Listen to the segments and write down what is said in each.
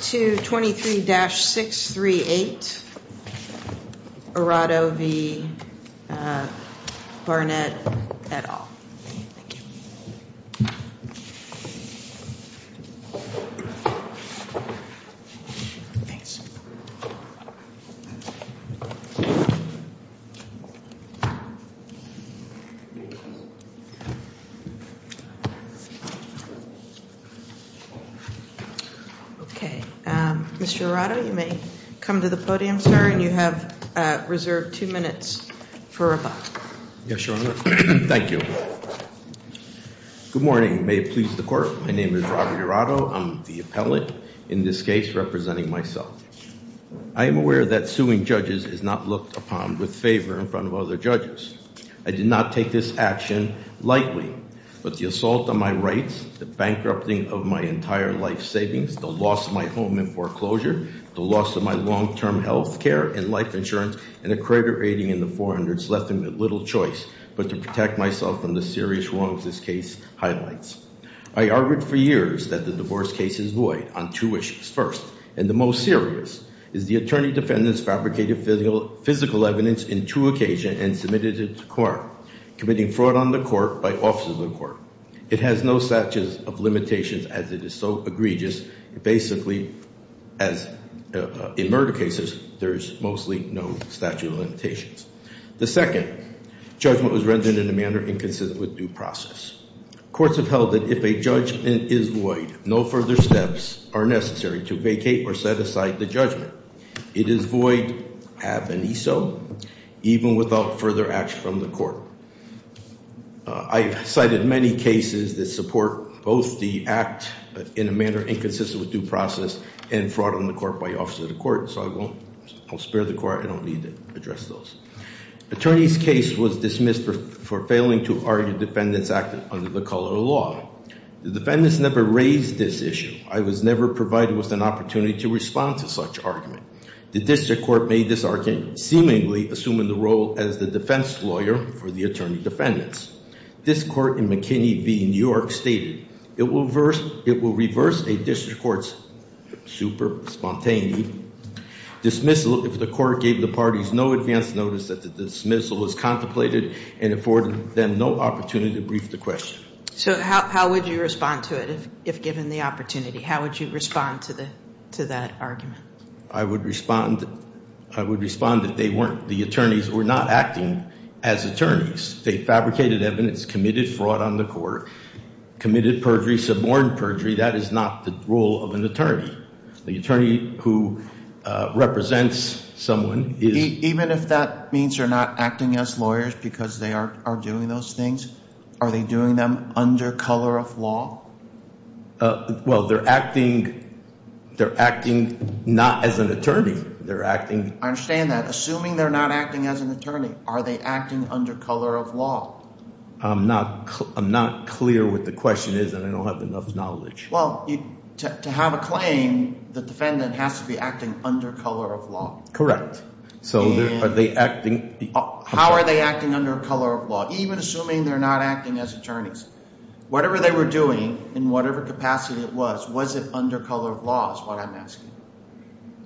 to 23-638 Errato v. Barnett, et al. Thank you. Thanks. Okay, Mr. Errato, you may come to the podium, sir, and you have reserved two minutes for rebuttal. Yes, Your Honor. Thank you. Good morning. May it please the Court. My name is Robert Errato. I'm the appellate in this case representing myself. I am aware that suing judges is not looked upon with favor in front of other judges. I did not take this action lightly, but the assault on my rights, the bankrupting of my entire life savings, the loss of my home in foreclosure, the loss of my long-term health care and life insurance, and a credit rating in the 400s left me with little choice but to protect myself from the serious wrongs this case highlights. I argued for years that the divorce case is void on two issues. First, and the most serious, is the attorney-defendant's fabricated physical evidence in two occasions and submitted it to court, committing fraud on the court by officers of the court. It has no statute of limitations as it is so egregious. Basically, in murder cases, there's mostly no statute of limitations. The second, judgment was rendered in a manner inconsistent with due process. Courts have held that if a judgment is void, no further steps are necessary to vacate or set aside the judgment. It is void, have any so, even without further action from the court. I've cited many cases that support both the act in a manner inconsistent with due process and fraud on the court by officer of the court, so I won't, I'll spare the court, I don't need to address those. Attorney's case was dismissed for failing to argue defendant's act under the color of law. The defendants never raised this issue. I was never provided with an opportunity to respond to such argument. The district court made this argument, seemingly assuming the role as the defense lawyer for the attorney defendants. This court in McKinney v New York stated, it will reverse a district court's super spontaneity. The dismissal, if the court gave the parties no advance notice that the dismissal was contemplated and afforded them no opportunity to brief the question. So how would you respond to it, if given the opportunity? How would you respond to that argument? I would respond that they weren't, the attorneys were not acting as attorneys. They fabricated evidence, committed fraud on the court, committed perjury, suborned perjury. That is not the role of an attorney. The attorney who represents someone is- Even if that means they're not acting as lawyers because they are doing those things, are they doing them under color of law? Well, they're acting not as an attorney. They're acting- I understand that. Assuming they're not acting as an attorney, are they acting under color of law? I'm not clear what the question is, and I don't have enough knowledge. Well, to have a claim, the defendant has to be acting under color of law. Correct. So are they acting- How are they acting under color of law, even assuming they're not acting as attorneys? Whatever they were doing, in whatever capacity it was, was it under color of law is what I'm asking.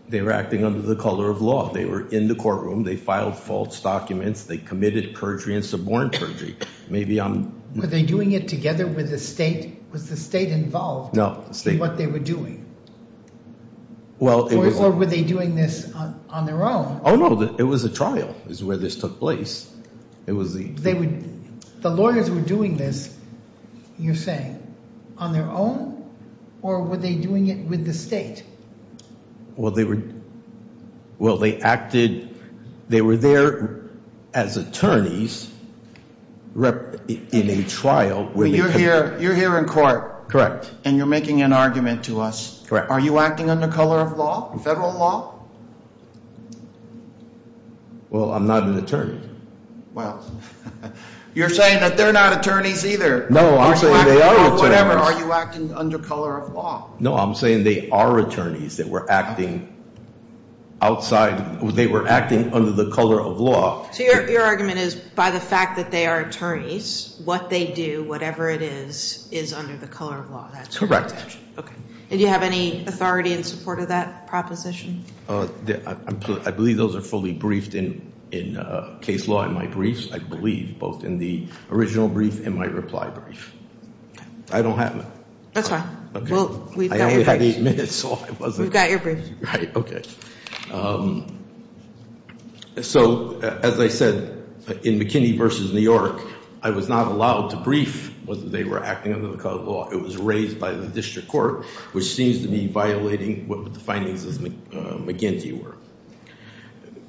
They were acting under the color of law. They were in the courtroom, they filed false documents, they committed perjury and suborned perjury. Maybe I'm- Were they doing it together with the state? Was the state involved in what they were doing? Or were they doing this on their own? No, it was a trial is where this took place. It was the- The lawyers were doing this, you're saying, on their own? Or were they doing it with the state? Well, they acted, they were there as attorneys in a trial where they- You're here in court. Correct. And you're making an argument to us. Correct. Are you acting under color of law, federal law? Well, I'm not an attorney. Well, you're saying that they're not attorneys either. No, I'm saying they are attorneys. Whatever, are you acting under color of law? No, I'm saying they are attorneys that were acting outside, they were acting under the color of law. So your argument is, by the fact that they are attorneys, what they do, whatever it is, is under the color of law. That's correct. Okay. Do you have any authority in support of that proposition? I believe those are fully briefed in case law in my briefs. I believe both in the original brief and my reply brief. I don't have them. That's fine. We've got your briefs. I only had eight minutes, so I wasn't- We've got your briefs. Right, okay. So, as I said, in McKinney versus New York, I was not allowed to brief whether they were acting under the color of law. It was raised by the district court, which seems to be violating what the findings of McGinty were.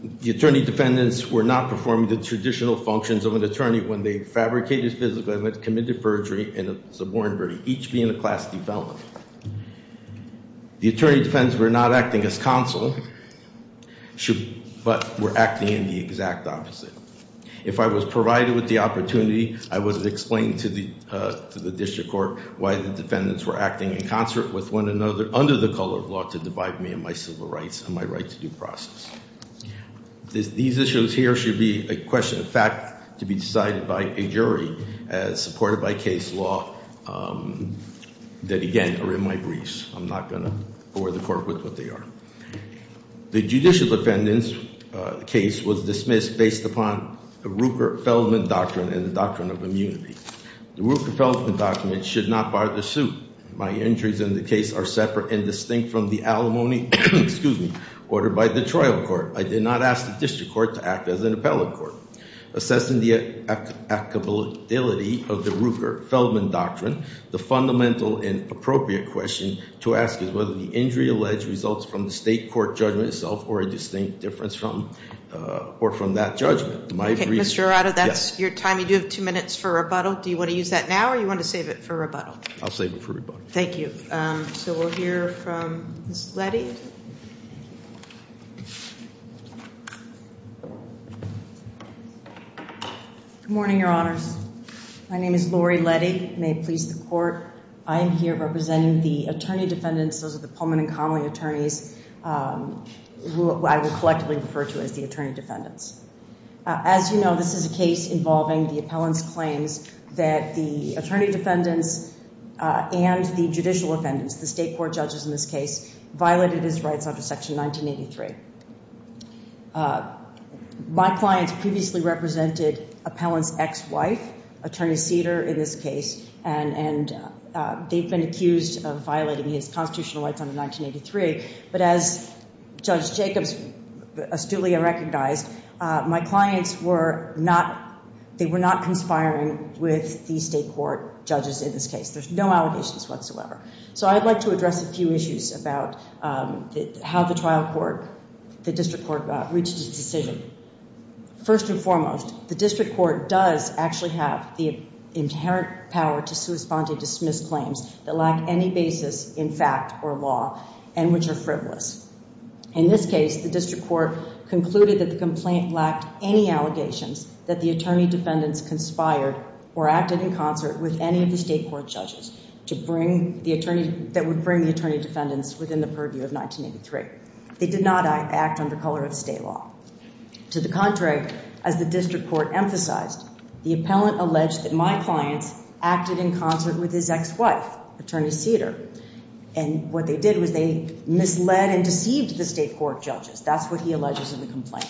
The attorney defendants were not performing the traditional functions of an attorney when they fabricated physical evidence, committed perjury, and subordinated, each being a class defendant. The attorney defendants were not acting as counsel, but were acting in the exact opposite. If I was provided with the opportunity, I would explain to the district court why the defendants were acting in concert with one another, under the color of law, to divide me in my civil rights and my right to due process. These issues here should be a question of fact to be decided by a jury as supported by case law. That again, are in my briefs. I'm not going to bore the court with what they are. The judicial defendants case was dismissed based upon the Rooker-Feldman doctrine and the doctrine of immunity. The Rooker-Feldman document should not bar the suit. My injuries in the case are separate and distinct from the alimony, excuse me, ordered by the trial court. I did not ask the district court to act as an appellate court. Assessing the applicability of the Rooker-Feldman doctrine, the fundamental and appropriate question to ask is whether the injury alleged results from the state court judgment itself or a distinct difference from or from that judgment. My brief- Mr. Arado, that's your time. You do have two minutes for rebuttal. Do you want to use that now or do you want to save it for rebuttal? I'll save it for rebuttal. Thank you. So we'll hear from Ms. Letty. Good morning, your honors. My name is Lori Letty. May it please the court. I am here representing the attorney defendants, those are the Pullman and Connelly attorneys who I would collectively refer to as the attorney defendants. As you know, this is a case involving the appellant's claims that the attorney defendants and the judicial defendants, the state court judges in this case, violated his rights under section 1983. My clients previously represented appellant's ex-wife, attorney Cedar, in this case, and they've been accused of violating his constitutional rights under 1983. But as Judge Jacobs astutely recognized, my clients were not, they were not conspiring with the state court judges in this case. There's no allegations whatsoever. So I'd like to address a few issues about how the trial court, the district court, reached its decision. First and foremost, the district court does actually have the inherent power to respond to dismissed claims that lack any basis in fact or law and which are frivolous. In this case, the district court concluded that the complaint lacked any allegations that the attorney defendants conspired or acted in concert with any of the state court judges that would bring the attorney defendants within the purview of 1983. They did not act under color of state law. To the contrary, as the district court emphasized, the appellant alleged that my clients acted in concert with his ex-wife, attorney Cedar. And what they did was they misled and deceived the state court judges. That's what he alleges in the complaint.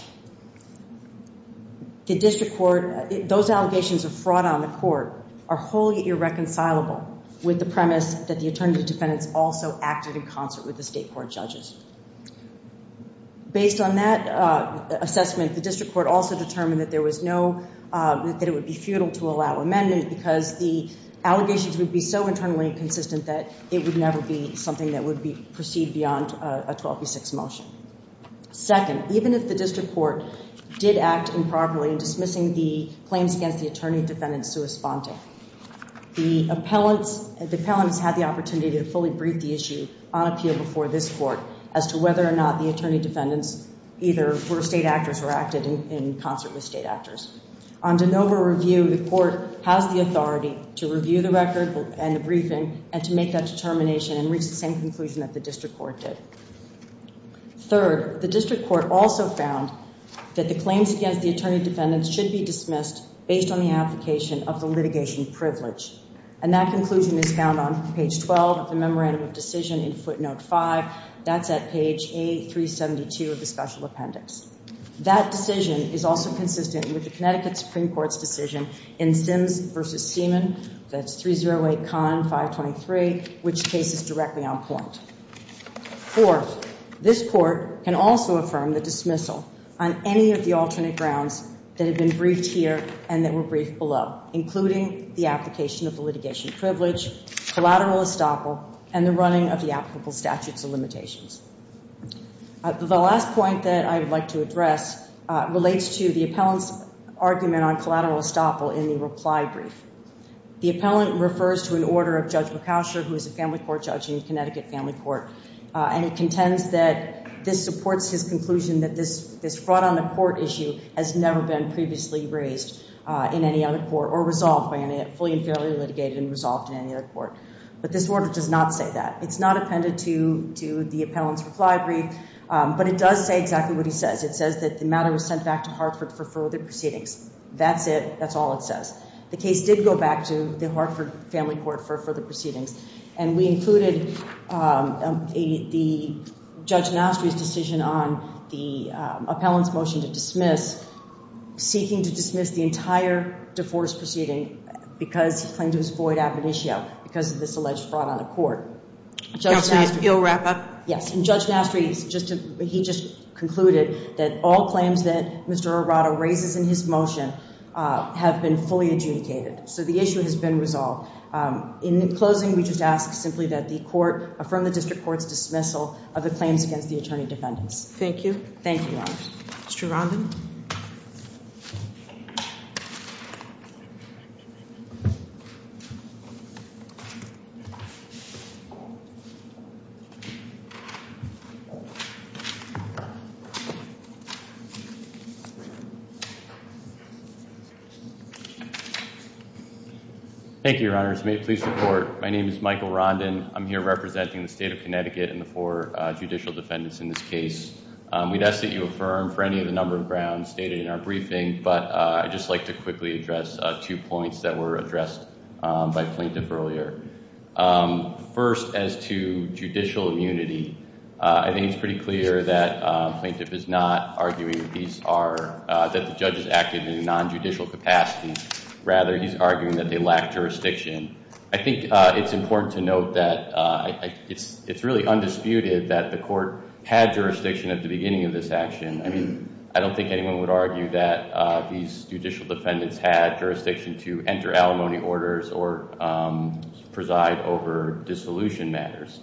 The district court, those allegations of fraud on the court are wholly irreconcilable with the premise that the attorney defendants also acted in concert with the state court judges. Based on that assessment, the district court also determined that there was no, that it would be futile to allow amendment because the allegations would be so internally inconsistent that it would never be something that would proceed beyond a 12B6 motion. Second, even if the district court did act improperly in dismissing the claims against the attorney defendants' sui sponte, the appellants had the opportunity to fully brief the issue on appeal before this court. As to whether or not the attorney defendants either were state actors or acted in concert with state actors. On DeNova review, the court has the authority to review the record and the briefing and to make that determination and reach the same conclusion that the district court did. Third, the district court also found that the claims against the attorney defendants should be dismissed based on the application of the litigation privilege. And that conclusion is found on page 12 of the memorandum of decision in footnote five. That's at page A372 of the special appendix. That decision is also consistent with the Connecticut Supreme Court's decision in Sims versus Seaman. That's 308 Con 523, which case is directly on point. Fourth, this court can also affirm the dismissal on any of the alternate grounds that have been briefed here and that were briefed below, including the application of the litigation privilege, collateral estoppel, and the running of the applicable statutes of limitations. The last point that I would like to address relates to the appellant's argument on collateral estoppel in the reply brief. The appellant refers to an order of Judge McOusher, who is a family court judge in the Connecticut Family Court. And he contends that this supports his conclusion that this fraud on the court issue has never been previously raised in any other court or resolved by any, fully and fairly litigated and resolved in any other court. But this order does not say that. It's not appended to the appellant's reply brief, but it does say exactly what he says. It says that the matter was sent back to Hartford for further proceedings. That's it, that's all it says. The case did go back to the Hartford Family Court for further proceedings. And we included the Judge Nostri's decision on the appellant's motion to dismiss, dismiss the entire divorce proceeding because he claimed it was void ab initio because of this alleged fraud on the court. Judge Nostri. You'll wrap up? Yes, and Judge Nostri, he just concluded that all claims that Mr. Arado raises in his motion have been fully adjudicated. So the issue has been resolved. In closing, we just ask simply that the court affirm the district court's dismissal of the claims against the attorney defendants. Thank you. Thank you, Your Honor. Mr. Robin. Thank you, Your Honors. May it please the court. My name is Michael Rondin. I'm here representing the state of Connecticut and the four judicial defendants in this case. We'd ask that you affirm for any of the number of grounds stated in our briefing, but I'd just like to quickly address two points that were addressed by plaintiff earlier. First, as to judicial immunity, I think it's pretty clear that plaintiff is not arguing that the judge is active in a non-judicial capacity. Rather, he's arguing that they lack jurisdiction. I think it's important to note that it's really undisputed that the court had jurisdiction at the beginning of this action. I mean, I don't think anyone would argue that these judicial defendants had jurisdiction to enter alimony orders or preside over dissolution matters.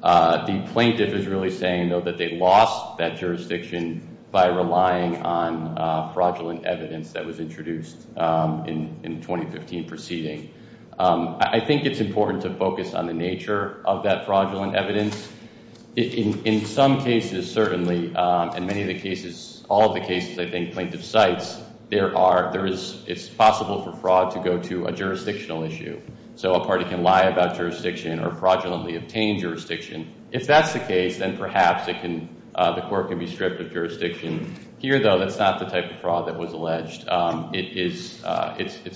The plaintiff is really saying, though, that they lost that jurisdiction by relying on fraudulent evidence that was introduced in the 2015 proceeding. I think it's important to focus on the nature of that fraudulent evidence. In some cases, certainly, in many of the cases, all of the cases I think plaintiff cites, it's possible for fraud to go to a jurisdictional issue. So a party can lie about jurisdiction or fraudulently obtain jurisdiction. If that's the case, then perhaps the court can be stripped of jurisdiction. Here, though, that's not the type of fraud that was alleged. It's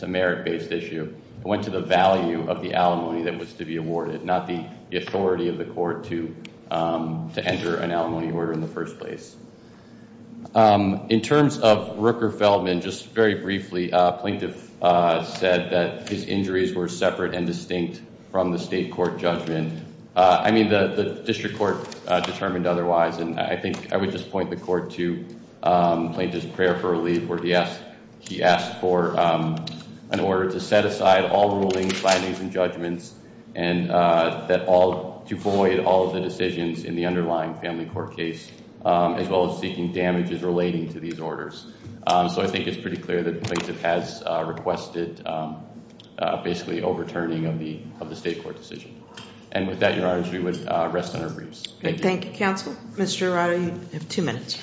a merit-based issue. It went to the value of the alimony that was to be awarded, not the authority of the court to enter an alimony order in the first place. In terms of Rooker Feldman, just very briefly, plaintiff said that his injuries were separate and distinct from the state court judgment. I mean, the district court determined otherwise, and I think I would just point the court to plaintiff's prayer for relief where he asked for an order to set aside all rulings, findings, and judgments. And to void all of the decisions in the underlying family court case, as well as seeking damages relating to these orders. So I think it's pretty clear that the plaintiff has requested basically overturning of the state court decision. And with that, Your Honor, as we would rest on our briefs. Thank you. Thank you, counsel. Mr. Arado, you have two minutes.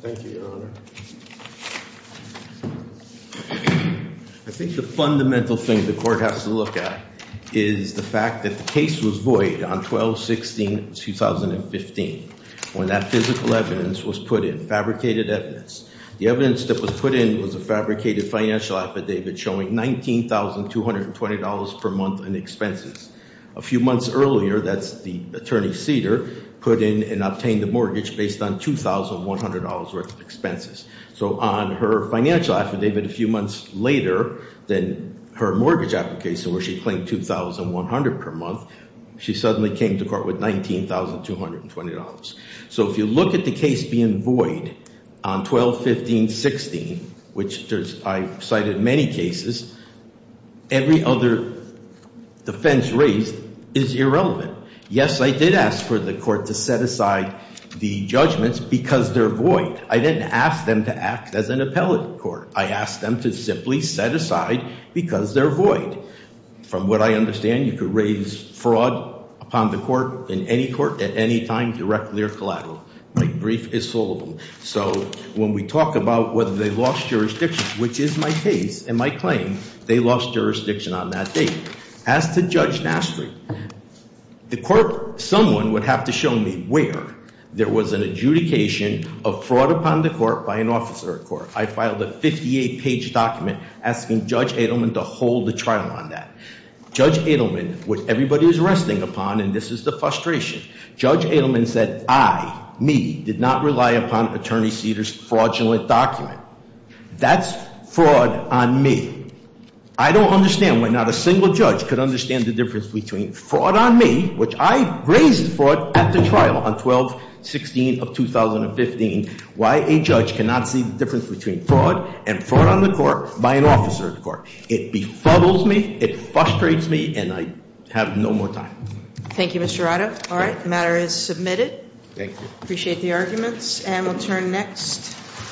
Thank you, Your Honor. I think the fundamental thing the court has to look at is the fact that the case was void on 12-16-2015. When that physical evidence was put in, fabricated evidence. The evidence that was put in was a fabricated financial affidavit showing $19,220 per month in expenses. A few months earlier, that's the attorney Cedar, put in and obtained a mortgage based on $2,100 worth of expenses. So on her financial affidavit a few months later, then her mortgage application where she claimed $2,100 per month. She suddenly came to court with $19,220. So if you look at the case being void on 12-15-16, which I cited many cases, every other defense raised is irrelevant. Yes, I did ask for the court to set aside the judgments because they're void. I didn't ask them to act as an appellate court. From what I understand, you could raise fraud upon the court in any court at any time, directly or collaterally. My brief is full of them. So when we talk about whether they lost jurisdiction, which is my case and my claim, they lost jurisdiction on that date. As to Judge Nastry, the court, someone would have to show me where there was an adjudication of fraud upon the court by an officer at court. I filed a 58 page document asking Judge Adelman to hold the trial on that. Judge Adelman, which everybody is resting upon, and this is the frustration. Judge Adelman said I, me, did not rely upon Attorney Seder's fraudulent document. That's fraud on me. I don't understand why not a single judge could understand the difference between fraud on me, which I raised fraud at the trial on 12-16 of 2015. Why a judge cannot see the difference between fraud and fraud on the court by an officer of the court. It befuddles me, it frustrates me, and I have no more time. Thank you, Mr. Arado. All right, the matter is submitted. Thank you. Appreciate the arguments, and we'll turn next.